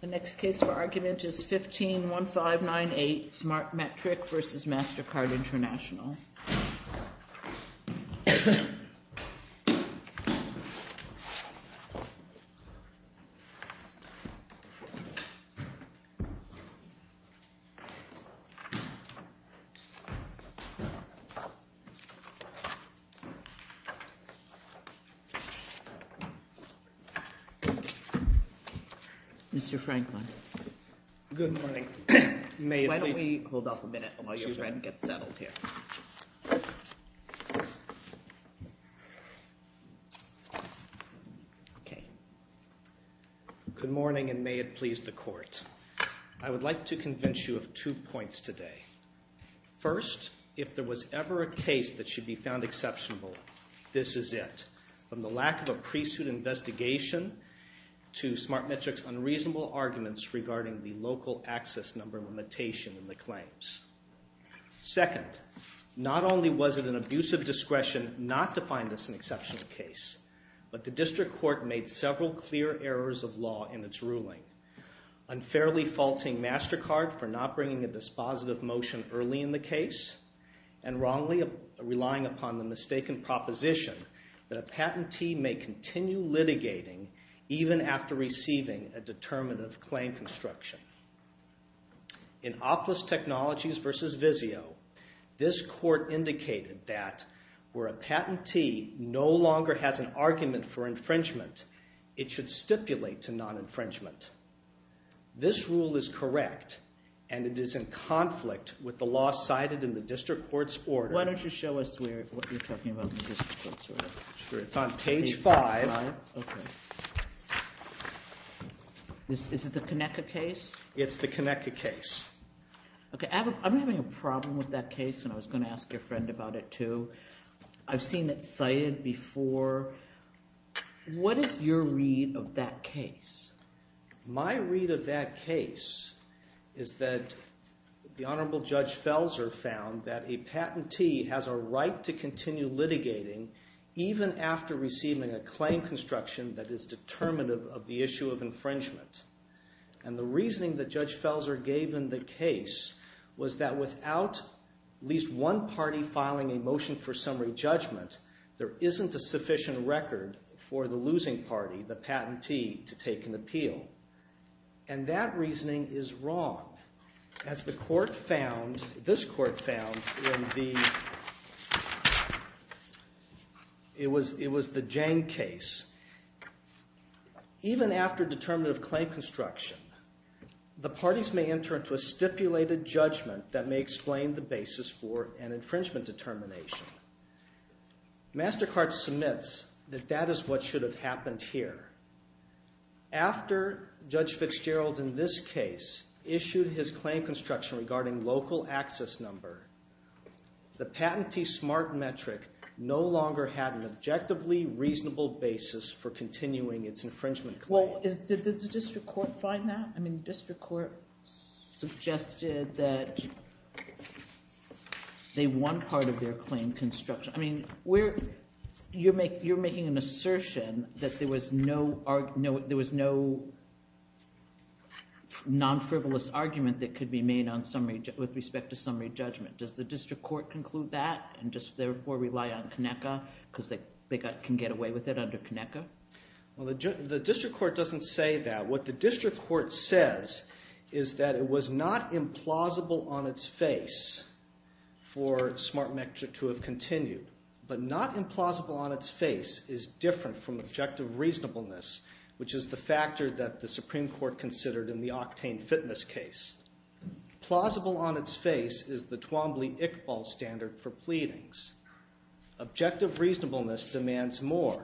The next case for argument is 15-1598 SmartMetric v. Mastercard International. Mr. Franklin. Good morning. May the... Why don't we hold off a minute while your friend gets settled here. Okay. Good morning, and may it please the court. I would like to convince you of two points today. First, if there was ever a case that should be found exceptional, this is it, from the lack of a pre-suit investigation to SmartMetric's unreasonable arguments regarding the local access number limitation in the claims. Second, not only was it an abuse of discretion not to find this an exceptional case, but the district court made several clear errors of law in its ruling, unfairly faulting Mastercard for not bringing a dispositive motion early in the case, and wrongly relying upon the mistaken proposition that a patentee may continue litigating even after receiving a determinative claim construction. In OPLIS Technologies v. Vizio, this court indicated that where a patentee no longer has an argument for infringement, it should stipulate to non-infringement. This rule is correct, and it is in conflict with the law cited in the district court's order. Why don't you show us where... What you're talking about in the district court's order? Sure. It's on page five. Page five? Okay. Is it the Connecca case? It's the Connecca case. Okay. I'm having a problem with that case, and I was going to ask your friend about it, too. I've seen it cited before. What is your read of that case? My read of that case is that the Honorable Judge Felser found that a patentee has a right to continue litigating even after receiving a claim construction that is determinative of the issue of infringement, and the reasoning that Judge Felser gave in the case was that without at least one party filing a motion for summary judgment, there isn't a sufficient record for the losing party, the patentee, to take an appeal, and that reasoning is wrong. As the court found, this court found in the... It was the Jang case. Even after determinative claim construction, the parties may enter into a stipulated judgment that may explain the basis for an infringement determination. MasterCard submits that that is what should have happened here. After Judge Fitzgerald, in this case, issued his claim construction regarding local access number, the patentee SMART metric no longer had an objectively reasonable basis for continuing its infringement claim. Well, did the district court find that? I mean, the district court suggested that they won part of their claim construction. I mean, you're making an assertion that there was no non-frivolous argument that could be made with respect to summary judgment. Does the district court conclude that and just therefore rely on Conecuh because they can get away with it under Conecuh? Well, the district court doesn't say that. What the district court says is that it was not implausible on its face for SMART metric to have continued, but not implausible on its face is different from objective reasonableness, which is the factor that the Supreme Court considered in the Octane Fitness case. Plausible on its face is the Twombly-Iqbal standard for pleadings. Objective reasonableness demands more.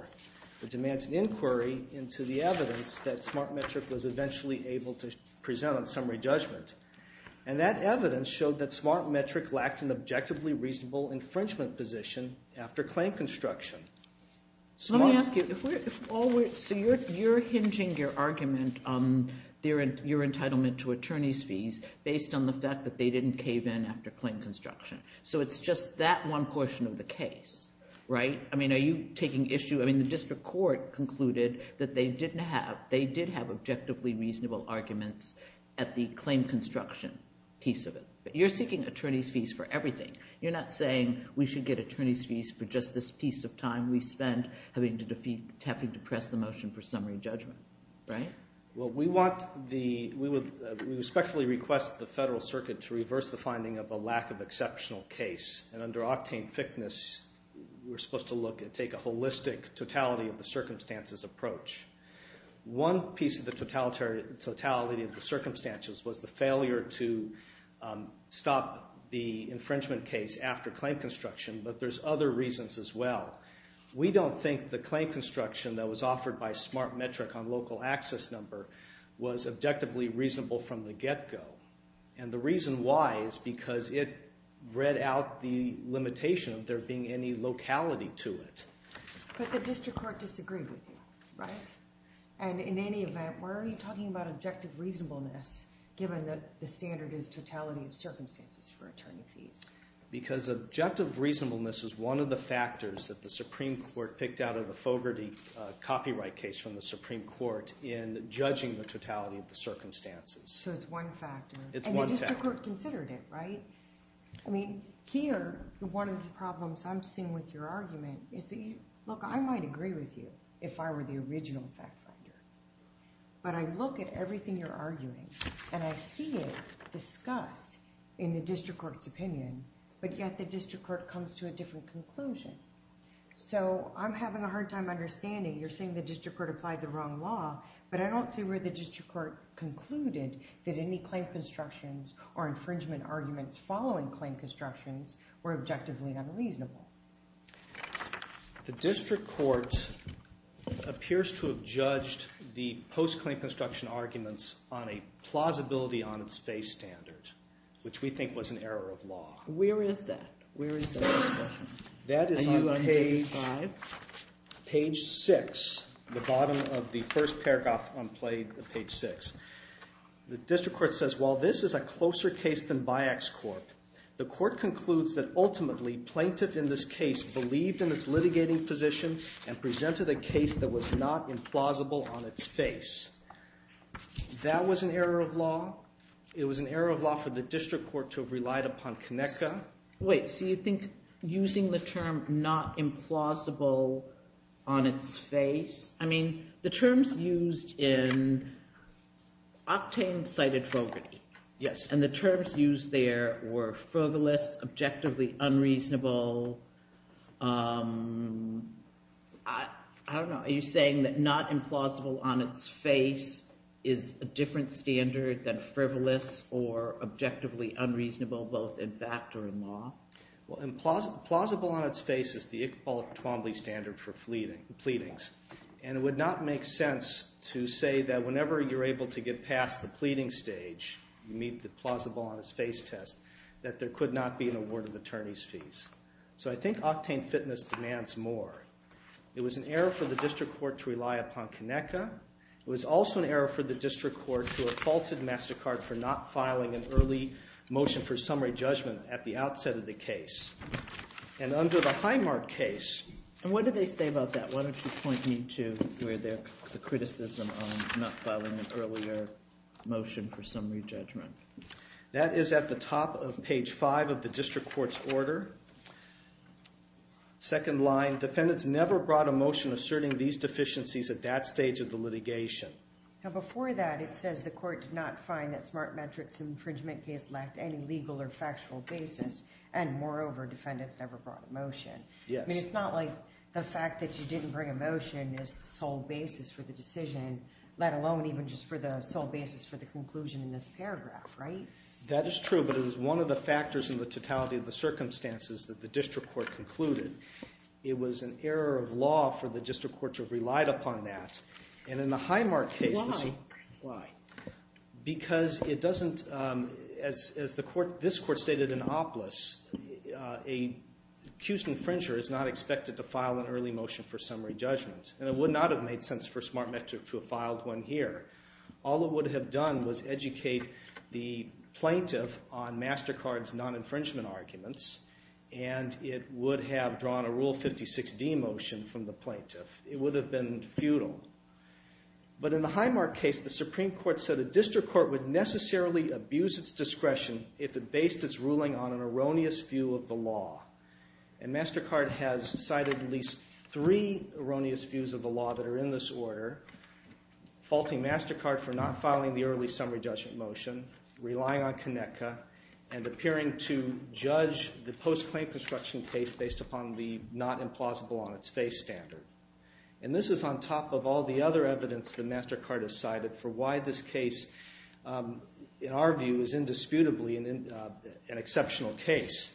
It demands an inquiry into the evidence that SMART metric was eventually able to present on summary judgment. And that evidence showed that SMART metric lacked an objectively reasonable infringement position after claim construction. Let me ask you, so you're hinging your argument on your entitlement to attorney's fees based on the fact that they didn't cave in after claim construction. So it's just that one portion of the case, right? I mean, are you taking issue? I mean, the district court concluded that they did have objectively reasonable arguments at the claim construction piece of it, but you're seeking attorney's fees for everything. You're not saying we should get attorney's fees for just this piece of time we spent having to press the motion for summary judgment, right? Well, we respectfully request the federal circuit to reverse the finding of a lack of totality of the circumstances approach. One piece of the totality of the circumstances was the failure to stop the infringement case after claim construction, but there's other reasons as well. We don't think the claim construction that was offered by SMART metric on local access number was objectively reasonable from the get-go. And the reason why is because it read out the limitation of there being any locality to it. But the district court disagreed with you, right? And in any event, why are you talking about objective reasonableness given that the standard is totality of circumstances for attorney fees? Because objective reasonableness is one of the factors that the Supreme Court picked out of the Fogarty copyright case from the Supreme Court in judging the totality of the circumstances. So it's one factor. It's one factor. And the district court considered it, right? I mean, here, one of the problems I'm seeing with your argument is that, look, I might agree with you if I were the original fact finder, but I look at everything you're arguing and I see it discussed in the district court's opinion, but yet the district court comes to a different conclusion. So I'm having a hard time understanding. You're saying the district court applied the wrong law, but I don't see where the district court concluded that any claim constructions or infringement arguments following claim constructions were objectively unreasonable. The district court appears to have judged the post-claim construction arguments on a plausibility on its face standard, which we think was an error of law. Where is that? Where is that discussion? That is on page five. The bottom of the first paragraph on page six. The district court says, while this is a closer case than Byak's court, the court concludes that ultimately plaintiff in this case believed in its litigating position and presented a case that was not implausible on its face. That was an error of law. It was an error of law for the district court to have relied upon Conecuh. Wait. So you think using the term not implausible on its face? I mean, the terms used in Octane cited Fogarty, and the terms used there were frivolous, objectively unreasonable. I don't know, are you saying that not implausible on its face is a different standard than frivolous or objectively unreasonable, both in fact or in law? Plausible on its face is the Iqbal Twombly standard for pleadings, and it would not make sense to say that whenever you're able to get past the pleading stage, you meet the plausible on its face test, that there could not be an award of attorney's fees. So I think Octane Fitness demands more. It was an error for the district court to rely upon Conecuh. It was also an error for the district court to have faulted MasterCard for not filing an early motion for summary judgment at the outset of the case. And under the Highmark case, and what did they say about that? Why don't you point me to where the criticism on not filing an earlier motion for summary judgment. That is at the top of page five of the district court's order. Second line, defendants never brought a motion asserting these deficiencies at that stage of the litigation. Now before that, it says the court did not find that SmartMetrics infringement case lacked any legal or factual basis, and moreover, defendants never brought a motion. Yes. I mean, it's not like the fact that you didn't bring a motion is the sole basis for the decision, let alone even just for the sole basis for the conclusion in this paragraph, right? That is true, but it was one of the factors in the totality of the circumstances that the district court concluded. It was an error of law for the district court to have relied upon that, and in the Highmark case, why? Because it doesn't, as this court stated in Opolis, an accused infringer is not expected to file an early motion for summary judgment, and it would not have made sense for SmartMetric to have filed one here. All it would have done was educate the plaintiff on MasterCard's non-infringement arguments, and it would have drawn a Rule 56D motion from the plaintiff. It would have been futile. But in the Highmark case, the Supreme Court said a district court would necessarily abuse its discretion if it based its ruling on an erroneous view of the law, and MasterCard has cited at least three erroneous views of the law that are in this order, faulting MasterCard for not filing the early summary judgment motion, relying on Connecta, and appearing to judge the post-claim construction case based upon the not implausible on its face standard. And this is on top of all the other evidence that MasterCard has cited for why this case, in our view, is indisputably an exceptional case,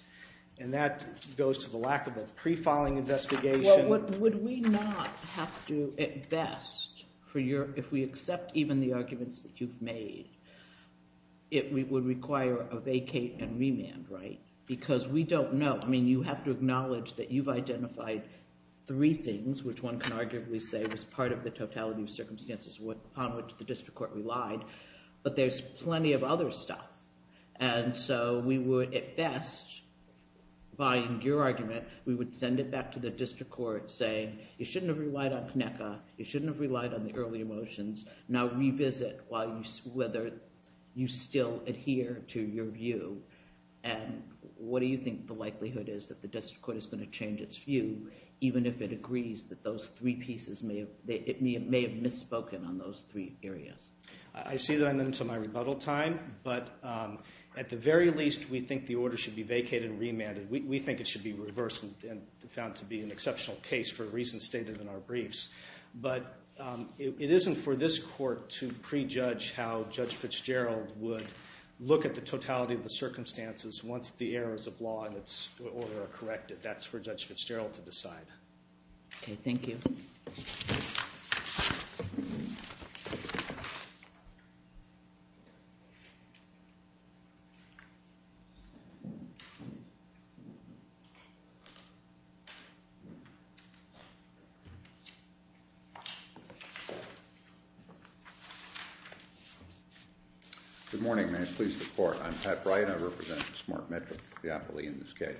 and that goes to the lack of a pre-filing investigation. Well, would we not have to, at best, if we accept even the arguments that you've made, it would require a vacate and remand, right? Because we don't know. I mean, you have to acknowledge that you've identified three things, which one can arguably say was part of the totality of circumstances upon which the district court relied. But there's plenty of other stuff. And so we would, at best, by your argument, we would send it back to the district court saying, you shouldn't have relied on Connecta, you shouldn't have relied on the early motions, now revisit whether you still adhere to your view. And what do you think the likelihood is that the district court is going to change its view, even if it agrees that those three pieces may have misspoken on those three areas? I see that I'm into my rebuttal time, but at the very least, we think the order should be vacated and remanded. We think it should be reversed and found to be an exceptional case for reasons stated in our briefs. But it isn't for this court to prejudge how Judge Fitzgerald would look at the totality of the circumstances once the errors of law and its order are corrected. That's for Judge Fitzgerald to decide. Okay, thank you. Thank you. Good morning, may I please the court. I'm Pat Bright, I represent Smart Metro, the appellee in this case.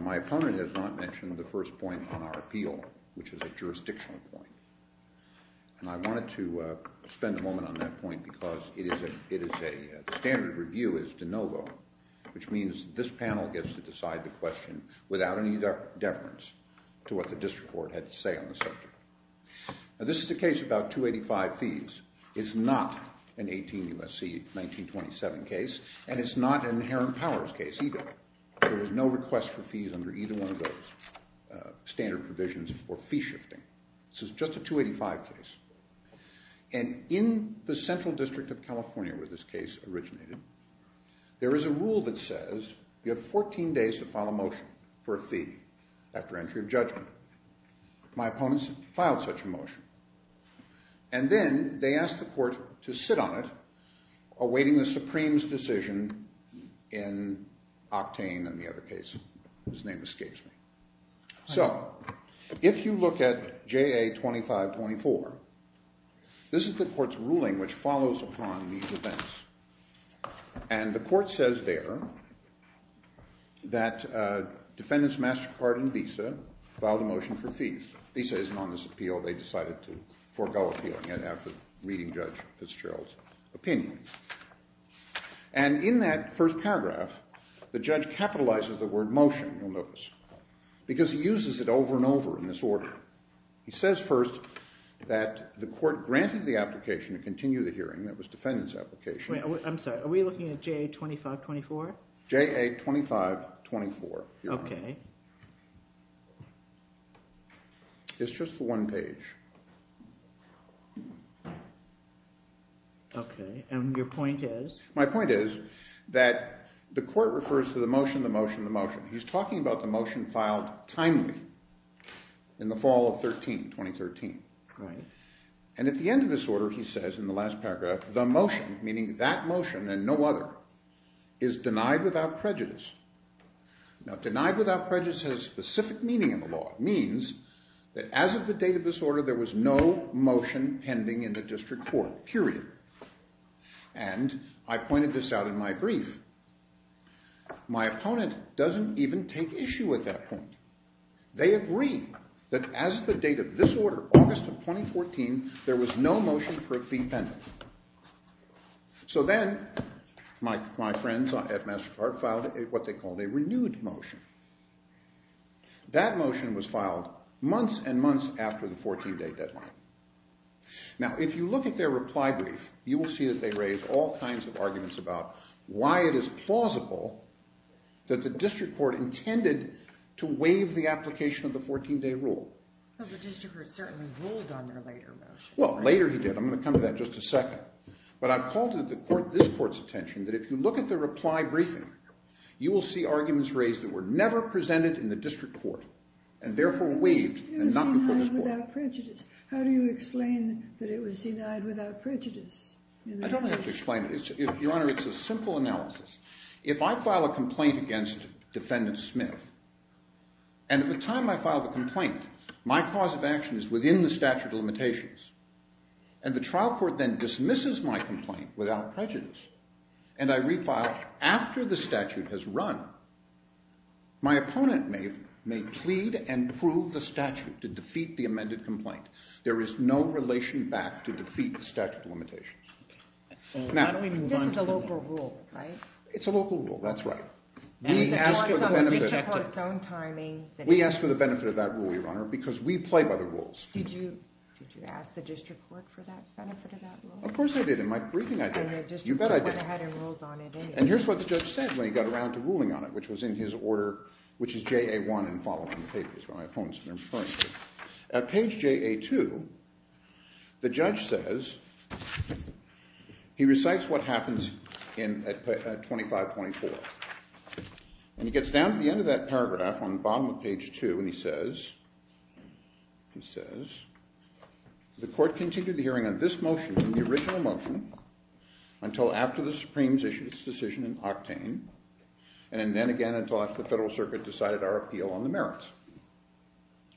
My opponent has not mentioned the first point on our appeal, which is a jurisdictional point. And I wanted to spend a moment on that point because it is a standard review is de novo, which means this panel gets to decide the question without any deference to what the district court had to say on the subject. Now this is a case about 285 fees. It's not an 18 U.S.C. 1927 case, and it's not an inherent powers case either. There was no request for fees under either one of those standard provisions for fee shifting. This is just a 285 case. And in the Central District of California where this case originated, there is a rule that says you have 14 days to file a motion for a fee after entry of judgment. My opponents filed such a motion. And then they asked the court to sit on it, awaiting the Supreme's decision in Octane and the other case. His name escapes me. So if you look at JA 2524, this is the court's ruling which follows upon these events. And the court says there that defendants MasterCard and Visa filed a motion for fees. Visa isn't on this appeal. They decided to forgo appealing it after reading Judge Fitzgerald's opinion. And in that first paragraph, the judge capitalizes the word motion. You'll notice. Because he uses it over and over in this order. He says first that the court granted the application to continue the hearing. That was defendant's application. I'm sorry. Are we looking at JA 2524? JA 2524. Okay. It's just the one page. Okay. My point is that the court refers to the motion, the motion, the motion. He's talking about the motion filed timely in the fall of 13, 2013. Right. And at the end of this order, he says in the last paragraph, the motion, meaning that motion and no other, is denied without prejudice. Now, denied without prejudice has specific meaning in the law. It means that as of the date of this order, there was no motion pending in the district court, period. And I pointed this out in my brief. My opponent doesn't even take issue with that point. They agree that as of the date of this order, August of 2014, there was no motion for a fee pending. So then my friends at MasterCard filed what they called a renewed motion. That motion was filed months and months after the 14-day deadline. Now, if you look at their reply brief, you will see that they raise all kinds of arguments about why it is plausible that the district court intended to waive the application of the 14-day rule. Well, the district court certainly ruled on their later motion. Well, later he did. I'm going to come to that in just a second. But I've called this court's attention that if you look at their reply briefing, you will see arguments raised that were never presented in the district court and therefore waived and not before this court. It was denied without prejudice. How do you explain that it was denied without prejudice? I don't have to explain it. Your Honor, it's a simple analysis. If I file a complaint against Defendant Smith, and at the time I file the complaint, my cause of action is within the statute of limitations, and the trial court then dismisses my complaint without prejudice, and I refile after the statute has run, my opponent may plead and prove the statute to defeat the amended complaint. There is no relation back to defeat the statute of limitations. This is a local rule, right? It's a local rule. That's right. We asked for the benefit of that rule, Your Honor, because we play by the rules. Did you ask the district court for that benefit of that rule? Of course I did. In my briefing, I did. You bet I did. And here's what the judge said when he got around to ruling on it, which was in his order, which is JA1 and following the papers where my opponent's been referring to. At page JA2, the judge says he recites what happens at 25.4. And he gets down to the end of that paragraph on the bottom of page 2, and he says, the court continued the hearing on this motion, the original motion, until after the Supremes issued its decision in Octane, and then again until after the Federal Circuit decided our appeal on the merits.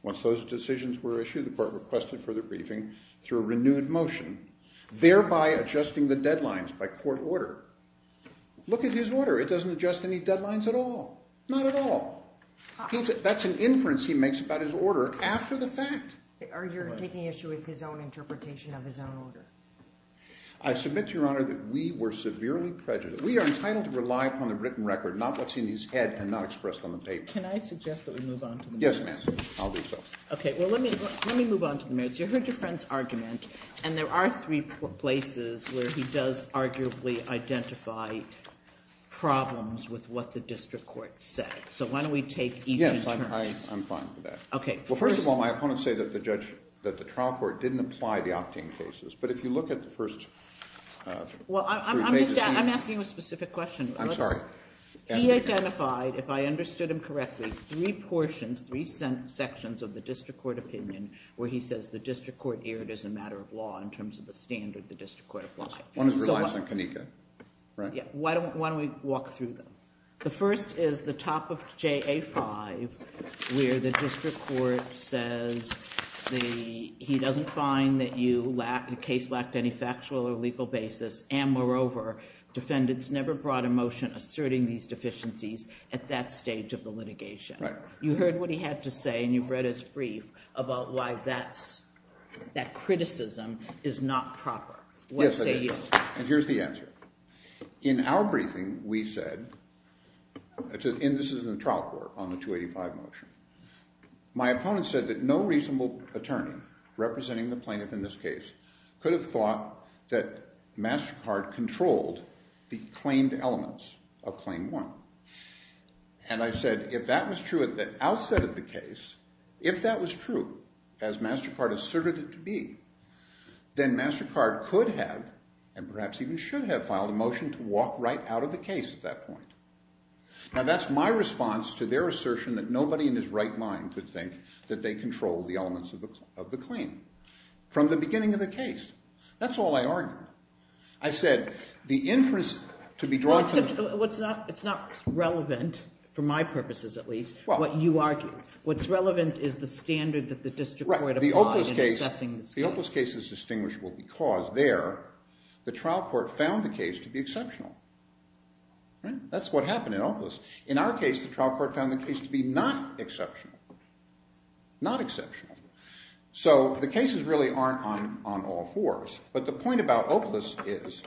Once those decisions were issued, the court requested further briefing through a renewed motion, thereby adjusting the deadlines by court order. Look at his order. It doesn't adjust any deadlines at all. Not at all. That's an inference he makes about his order after the fact. Are you taking issue with his own interpretation of his own order? I submit to Your Honor that we were severely prejudiced. We are entitled to rely upon the written record, not what's in his head and not expressed on the paper. Can I suggest that we move on to the merits? Yes, ma'am. I'll do so. Okay. Well, let me move on to the merits. You heard your friend's argument, and there are three places where he does arguably identify problems with what the district court said. So why don't we take each in turn? Yes, I'm fine with that. Okay. Well, first of all, my opponents say that the trial court didn't apply the Octane cases. But if you look at the first three cases we have. Well, I'm asking you a specific question. I'm sorry. He identified, if I understood him correctly, three portions, three sections of the district court opinion where he says the district court erred as a matter of law in terms of the standard the district court applied. One of them relies on Connica, right? Why don't we walk through them? The first is the top of JA-5 where the district court says he doesn't find that your case lacked any factual or legal basis. And moreover, defendants never brought a motion asserting these deficiencies at that stage of the litigation. Right. You heard what he had to say, and you've read his brief about why that criticism is not proper. Yes, it is. And here's the answer. In our briefing, we said, and this is in the trial court on the 285 motion, my opponent said that no reasonable attorney representing the plaintiff in this case could have thought that MasterCard controlled the claimed elements of Claim 1. And I said, if that was true at the outset of the case, if that was true as MasterCard asserted it to be, then MasterCard could have and perhaps even should have filed a motion to walk right out of the case at that point. Now, that's my response to their assertion that nobody in his right mind could think that they controlled the elements of the claim from the beginning of the case. That's all I argued. I said the inference to be drawn from the… It's not relevant, for my purposes at least, what you argued. What's relevant is the standard that the district court applied in assessing this case. The Opaliss case is distinguishable because there the trial court found the case to be exceptional. That's what happened in Opaliss. In our case, the trial court found the case to be not exceptional. Not exceptional. So the cases really aren't on all fours. But the point about Opaliss is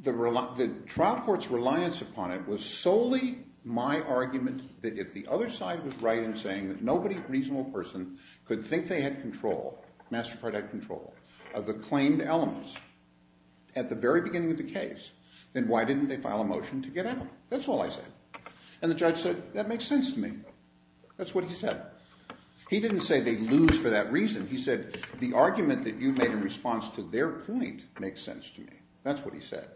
the trial court's reliance upon it was solely my argument that if the other side was right in saying that nobody reasonable person could think they had control, MasterCard had control, of the claimed elements at the very beginning of the case, then why didn't they file a motion to get out? That's all I said. And the judge said, that makes sense to me. That's what he said. He didn't say they'd lose for that reason. He said the argument that you made in response to their point makes sense to me. That's what he said.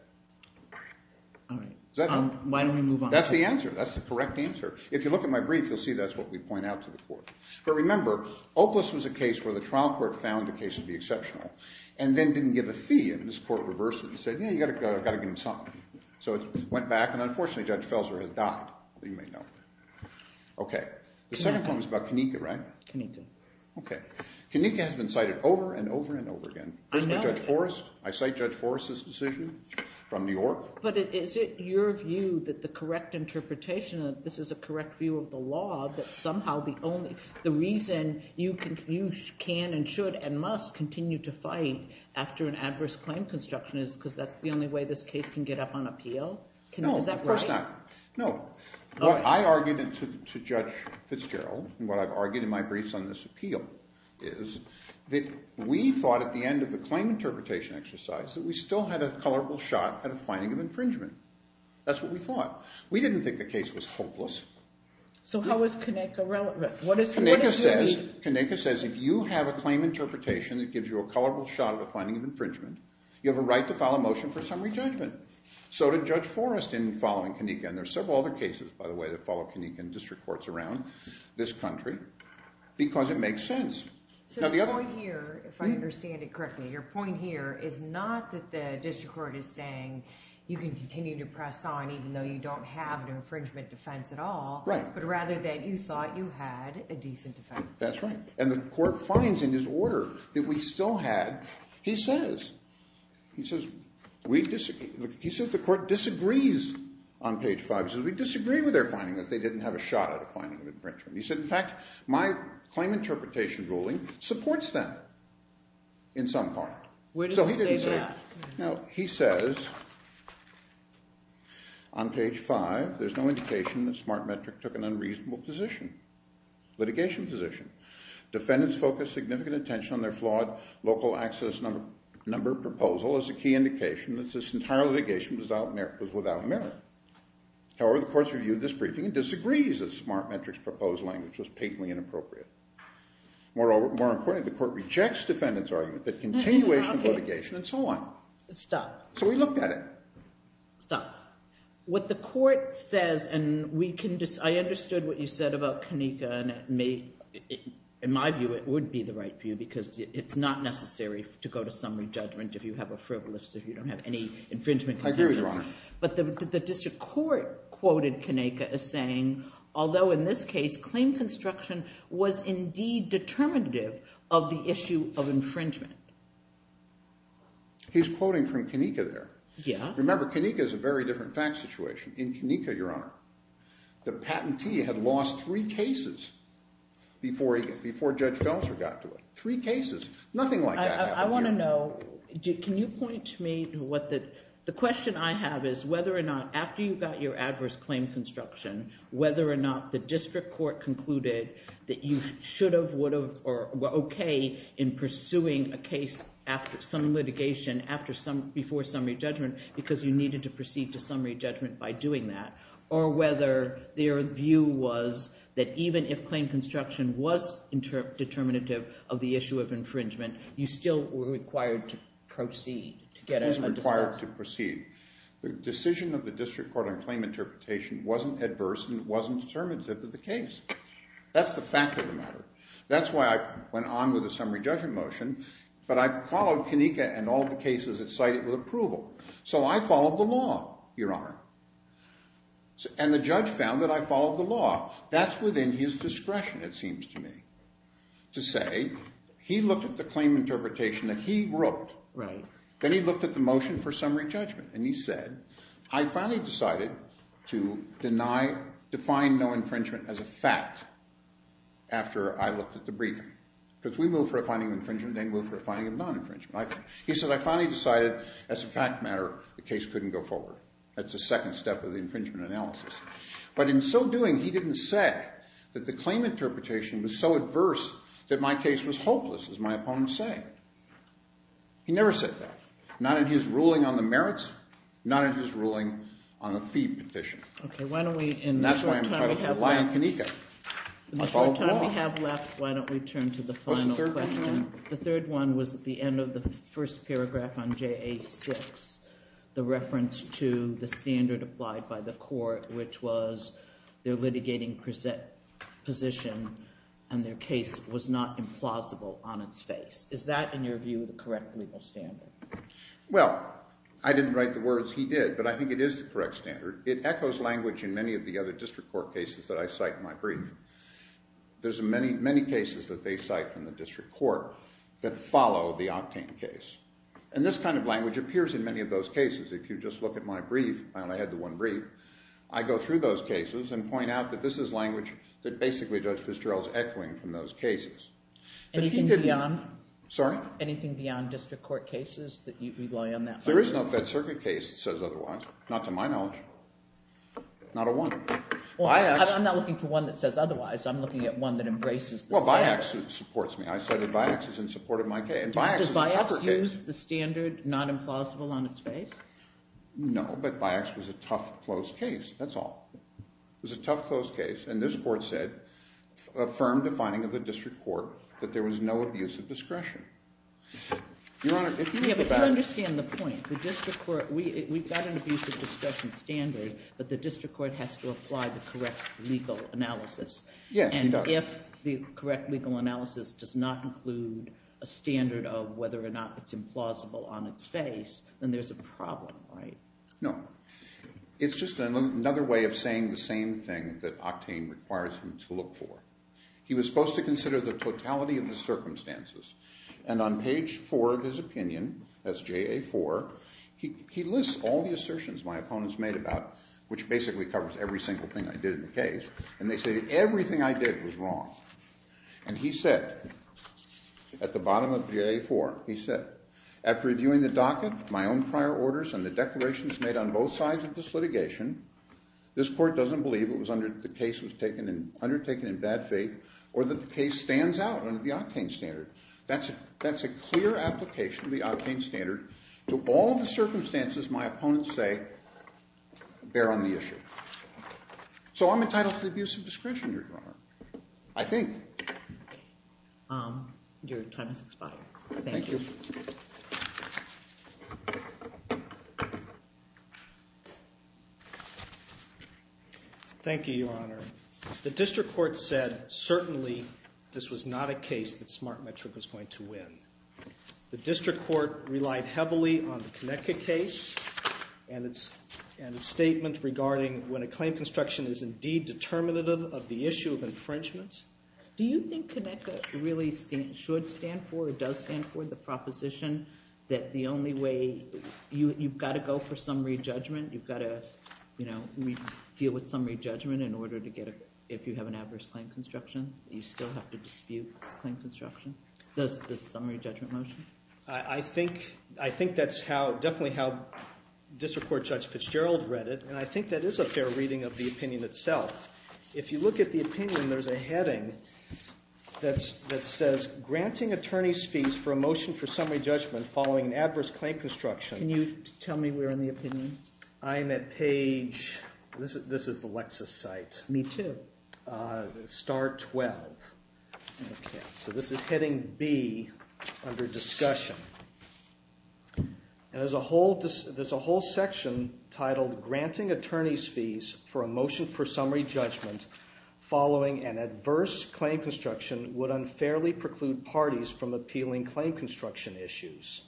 Does that help? Why don't we move on? That's the answer. That's the correct answer. If you look at my brief, you'll see that's what we point out to the court. But remember, Opaliss was a case where the trial court found the case to be exceptional and then didn't give a fee. And this court reversed it and said, yeah, you've got to give them something. So it went back. And unfortunately, Judge Felser has died. You may know. Okay. The second claim is about Kenneka, right? Kenneka. Okay. Kenneka has been cited over and over and over again. I know. First by Judge Forrest. I cite Judge Forrest's decision from New York. But is it your view that the correct interpretation of this is a correct view of the law that somehow the reason you can and should and must continue to fight after an adverse claim construction is because that's the only way this case can get up on appeal? No, of course not. Is that right? No. What I argued to Judge Fitzgerald and what I've argued in my briefs on this appeal is that we thought at the end of the claim interpretation exercise that we still had a colorful shot at a finding of infringement. That's what we thought. We didn't think the case was hopeless. So how is Kenneka relevant? Kenneka says if you have a claim interpretation that gives you a colorful shot at a finding of infringement, you have a right to file a motion for summary judgment. So did Judge Forrest in following Kenneka. And there are several other cases, by the way, that follow Kenneka in district courts around this country because it makes sense. So the point here, if I understand it correctly, your point here is not that the district court is saying you can continue to press on even though you don't have an infringement defense at all. Right. But rather that you thought you had a decent defense. That's right. And the court finds in his order that we still had. He says the court disagrees on page five. He says we disagree with their finding that they didn't have a shot at a finding of infringement. He said, in fact, my claim interpretation ruling supports them in some part. Where does he say that? He says on page five, there's no indication that smart metric took an unreasonable position, litigation position. Defendants focused significant attention on their flawed local access number proposal as a key indication that this entire litigation was without merit. However, the courts reviewed this briefing and disagrees that smart metrics proposed language was patently inappropriate. More importantly, the court rejects defendant's argument that continuation of litigation and so on. Stop. So we looked at it. Stop. What the court says, and I understood what you said about Kanika. In my view, it would be the right view because it's not necessary to go to summary judgment if you have a frivolous, if you don't have any infringement. I agree with you, Your Honor. But the district court quoted Kanika as saying, although in this case, claim construction was indeed determinative of the issue of infringement. He's quoting from Kanika there. Yeah. Remember, Kanika is a very different fact situation. In Kanika, Your Honor, the patentee had lost three cases before Judge Felser got to it. Three cases. Nothing like that happened here. I want to know. Can you point to me what the – the question I have is whether or not after you got your adverse claim construction, whether or not the district court concluded that you should have, would have, or were okay in pursuing a case after some litigation, after some – before summary judgment because you needed to proceed to summary judgment by doing that, or whether their view was that even if claim construction was determinative of the issue of infringement, you still were required to proceed to get a – It was required to proceed. The decision of the district court on claim interpretation wasn't adverse and it wasn't determinative of the case. That's why I went on with the summary judgment motion, but I followed Kanika and all the cases that cited with approval. So I followed the law, Your Honor, and the judge found that I followed the law. That's within his discretion, it seems to me, to say he looked at the claim interpretation that he wrote. Right. Then he looked at the motion for summary judgment and he said, I finally decided to deny – define no infringement as a fact after I looked at the briefing. Because we move for a finding of infringement, they move for a finding of non-infringement. He said, I finally decided as a fact matter the case couldn't go forward. That's the second step of the infringement analysis. But in so doing, he didn't say that the claim interpretation was so adverse that my case was hopeless, as my opponents say. He never said that. Not in his ruling on the merits, not in his ruling on the fee petition. Okay, why don't we, in the short time we have left – That's why I'm entitled to rely on Kanika. I followed the law. In the short time we have left, why don't we turn to the final question? What's the third question? The third one was at the end of the first paragraph on JA6, the reference to the standard applied by the court, which was their litigating position and their case was not implausible on its face. Is that, in your view, the correct legal standard? Well, I didn't write the words he did, but I think it is the correct standard. It echoes language in many of the other district court cases that I cite in my brief. There's many, many cases that they cite from the district court that follow the Octane case. And this kind of language appears in many of those cases. If you just look at my brief – I only had the one brief – I go through those cases and point out that this is language that basically Judge Fitzgerald is echoing from those cases. Anything beyond district court cases that you rely on that for? There is no Fed Circuit case that says otherwise. Not to my knowledge. Not a one. Well, I'm not looking for one that says otherwise. I'm looking at one that embraces the standard. Well, BIACS supports me. I cited BIACS as in support of my case. Does BIACS use the standard not implausible on its face? No, but BIACS was a tough, closed case. That's all. It was a tough, closed case. And this court said, affirmed the finding of the district court, that there was no abuse of discretion. Your Honor, if you could back up. Yeah, but you understand the point. The district court – we've got an abuse of discretion standard, but the district court has to apply the correct legal analysis. Yeah, you got it. And if the correct legal analysis does not include a standard of whether or not it's implausible on its face, then there's a problem, right? No. It's just another way of saying the same thing that Octane requires him to look for. He was supposed to consider the totality of the circumstances. And on page four of his opinion, that's JA4, he lists all the assertions my opponents made about it, which basically covers every single thing I did in the case. And they say everything I did was wrong. And he said, at the bottom of JA4, he said, after reviewing the docket, my own prior orders, and the declarations made on both sides of this litigation, this court doesn't believe it was undertaken in bad faith or that the case stands out under the Octane standard. That's a clear application of the Octane standard to all the circumstances my opponents say bear on the issue. So I'm entitled to the abuse of discretion, Your Honor. I think. Your time has expired. Thank you. Thank you, Your Honor. The district court said certainly this was not a case that Smartmetric was going to win. The district court relied heavily on the Conecuh case and its statement regarding when a claim construction is indeed determinative of the issue of infringement. Do you think Conecuh really should stand for or does stand for the proposition that the only way you've got to go for summary judgment, you've got to deal with summary judgment in order to get a, if you have an adverse claim construction, you still have to dispute this claim construction? The summary judgment motion? I think that's definitely how district court judge Fitzgerald read it, and I think that is a fair reading of the opinion itself. If you look at the opinion, there's a heading that says, granting attorneys fees for a motion for summary judgment following an adverse claim construction. Can you tell me where in the opinion? I am at page, this is the Lexis site. Me too. Star 12. So this is heading B under discussion. There's a whole section titled, granting attorneys fees for a motion for summary judgment following an adverse claim construction would unfairly preclude parties from appealing claim construction issues.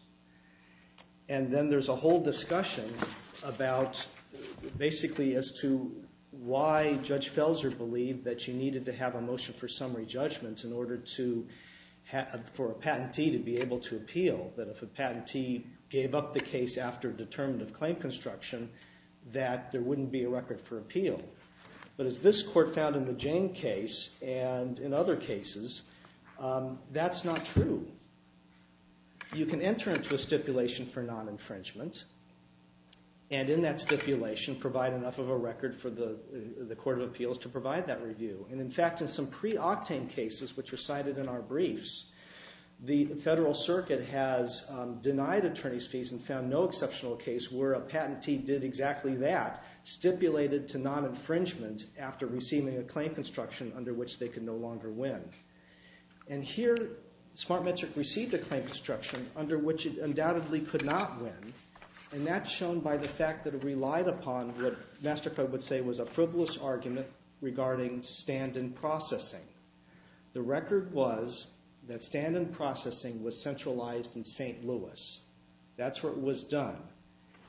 And then there's a whole discussion about basically as to why judge Felser believed that you needed to have a motion for summary judgment in order for a patentee to be able to appeal. That if a patentee gave up the case after a determinative claim construction, that there wouldn't be a record for appeal. But as this court found in the Jane case and in other cases, that's not true. You can enter into a stipulation for non-infringement, and in that stipulation, provide enough of a record for the court of appeals to provide that review. And in fact, in some pre-Octane cases, which were cited in our briefs, the federal circuit has denied attorneys fees and found no exceptional case where a patentee did exactly that. Stipulated to non-infringement after receiving a claim construction under which they could no longer win. And here, Smartmetric received a claim construction under which it undoubtedly could not win. And that's shown by the fact that it relied upon what MasterCard would say was a frivolous argument regarding stand-in processing. The record was that stand-in processing was centralized in St. Louis. That's where it was done.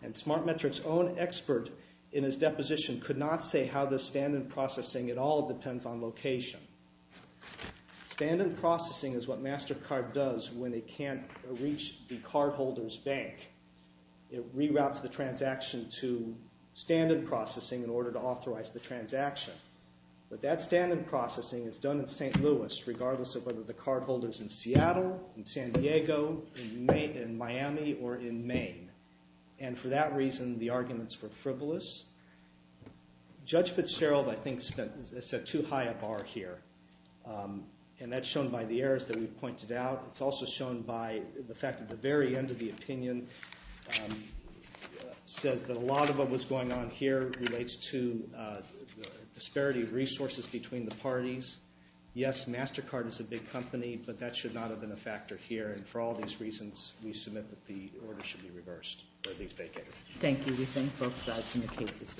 And Smartmetric's own expert in his deposition could not say how the stand-in processing at all depends on location. Stand-in processing is what MasterCard does when it can't reach the cardholder's bank. It reroutes the transaction to stand-in processing in order to authorize the transaction. But that stand-in processing is done in St. Louis, regardless of whether the cardholder's in Seattle, in San Diego, in Miami, or in Maine. And for that reason, the arguments were frivolous. Judge Fitzgerald, I think, set too high a bar here. And that's shown by the errors that we've pointed out. It's also shown by the fact that the very end of the opinion says that a lot of what was going on here relates to the disparity of resources between the parties. Yes, MasterCard is a big company, but that should not have been a factor here. And for all these reasons, we submit that the order should be reversed, or at least vacated. Thank you. We thank both sides in their cases.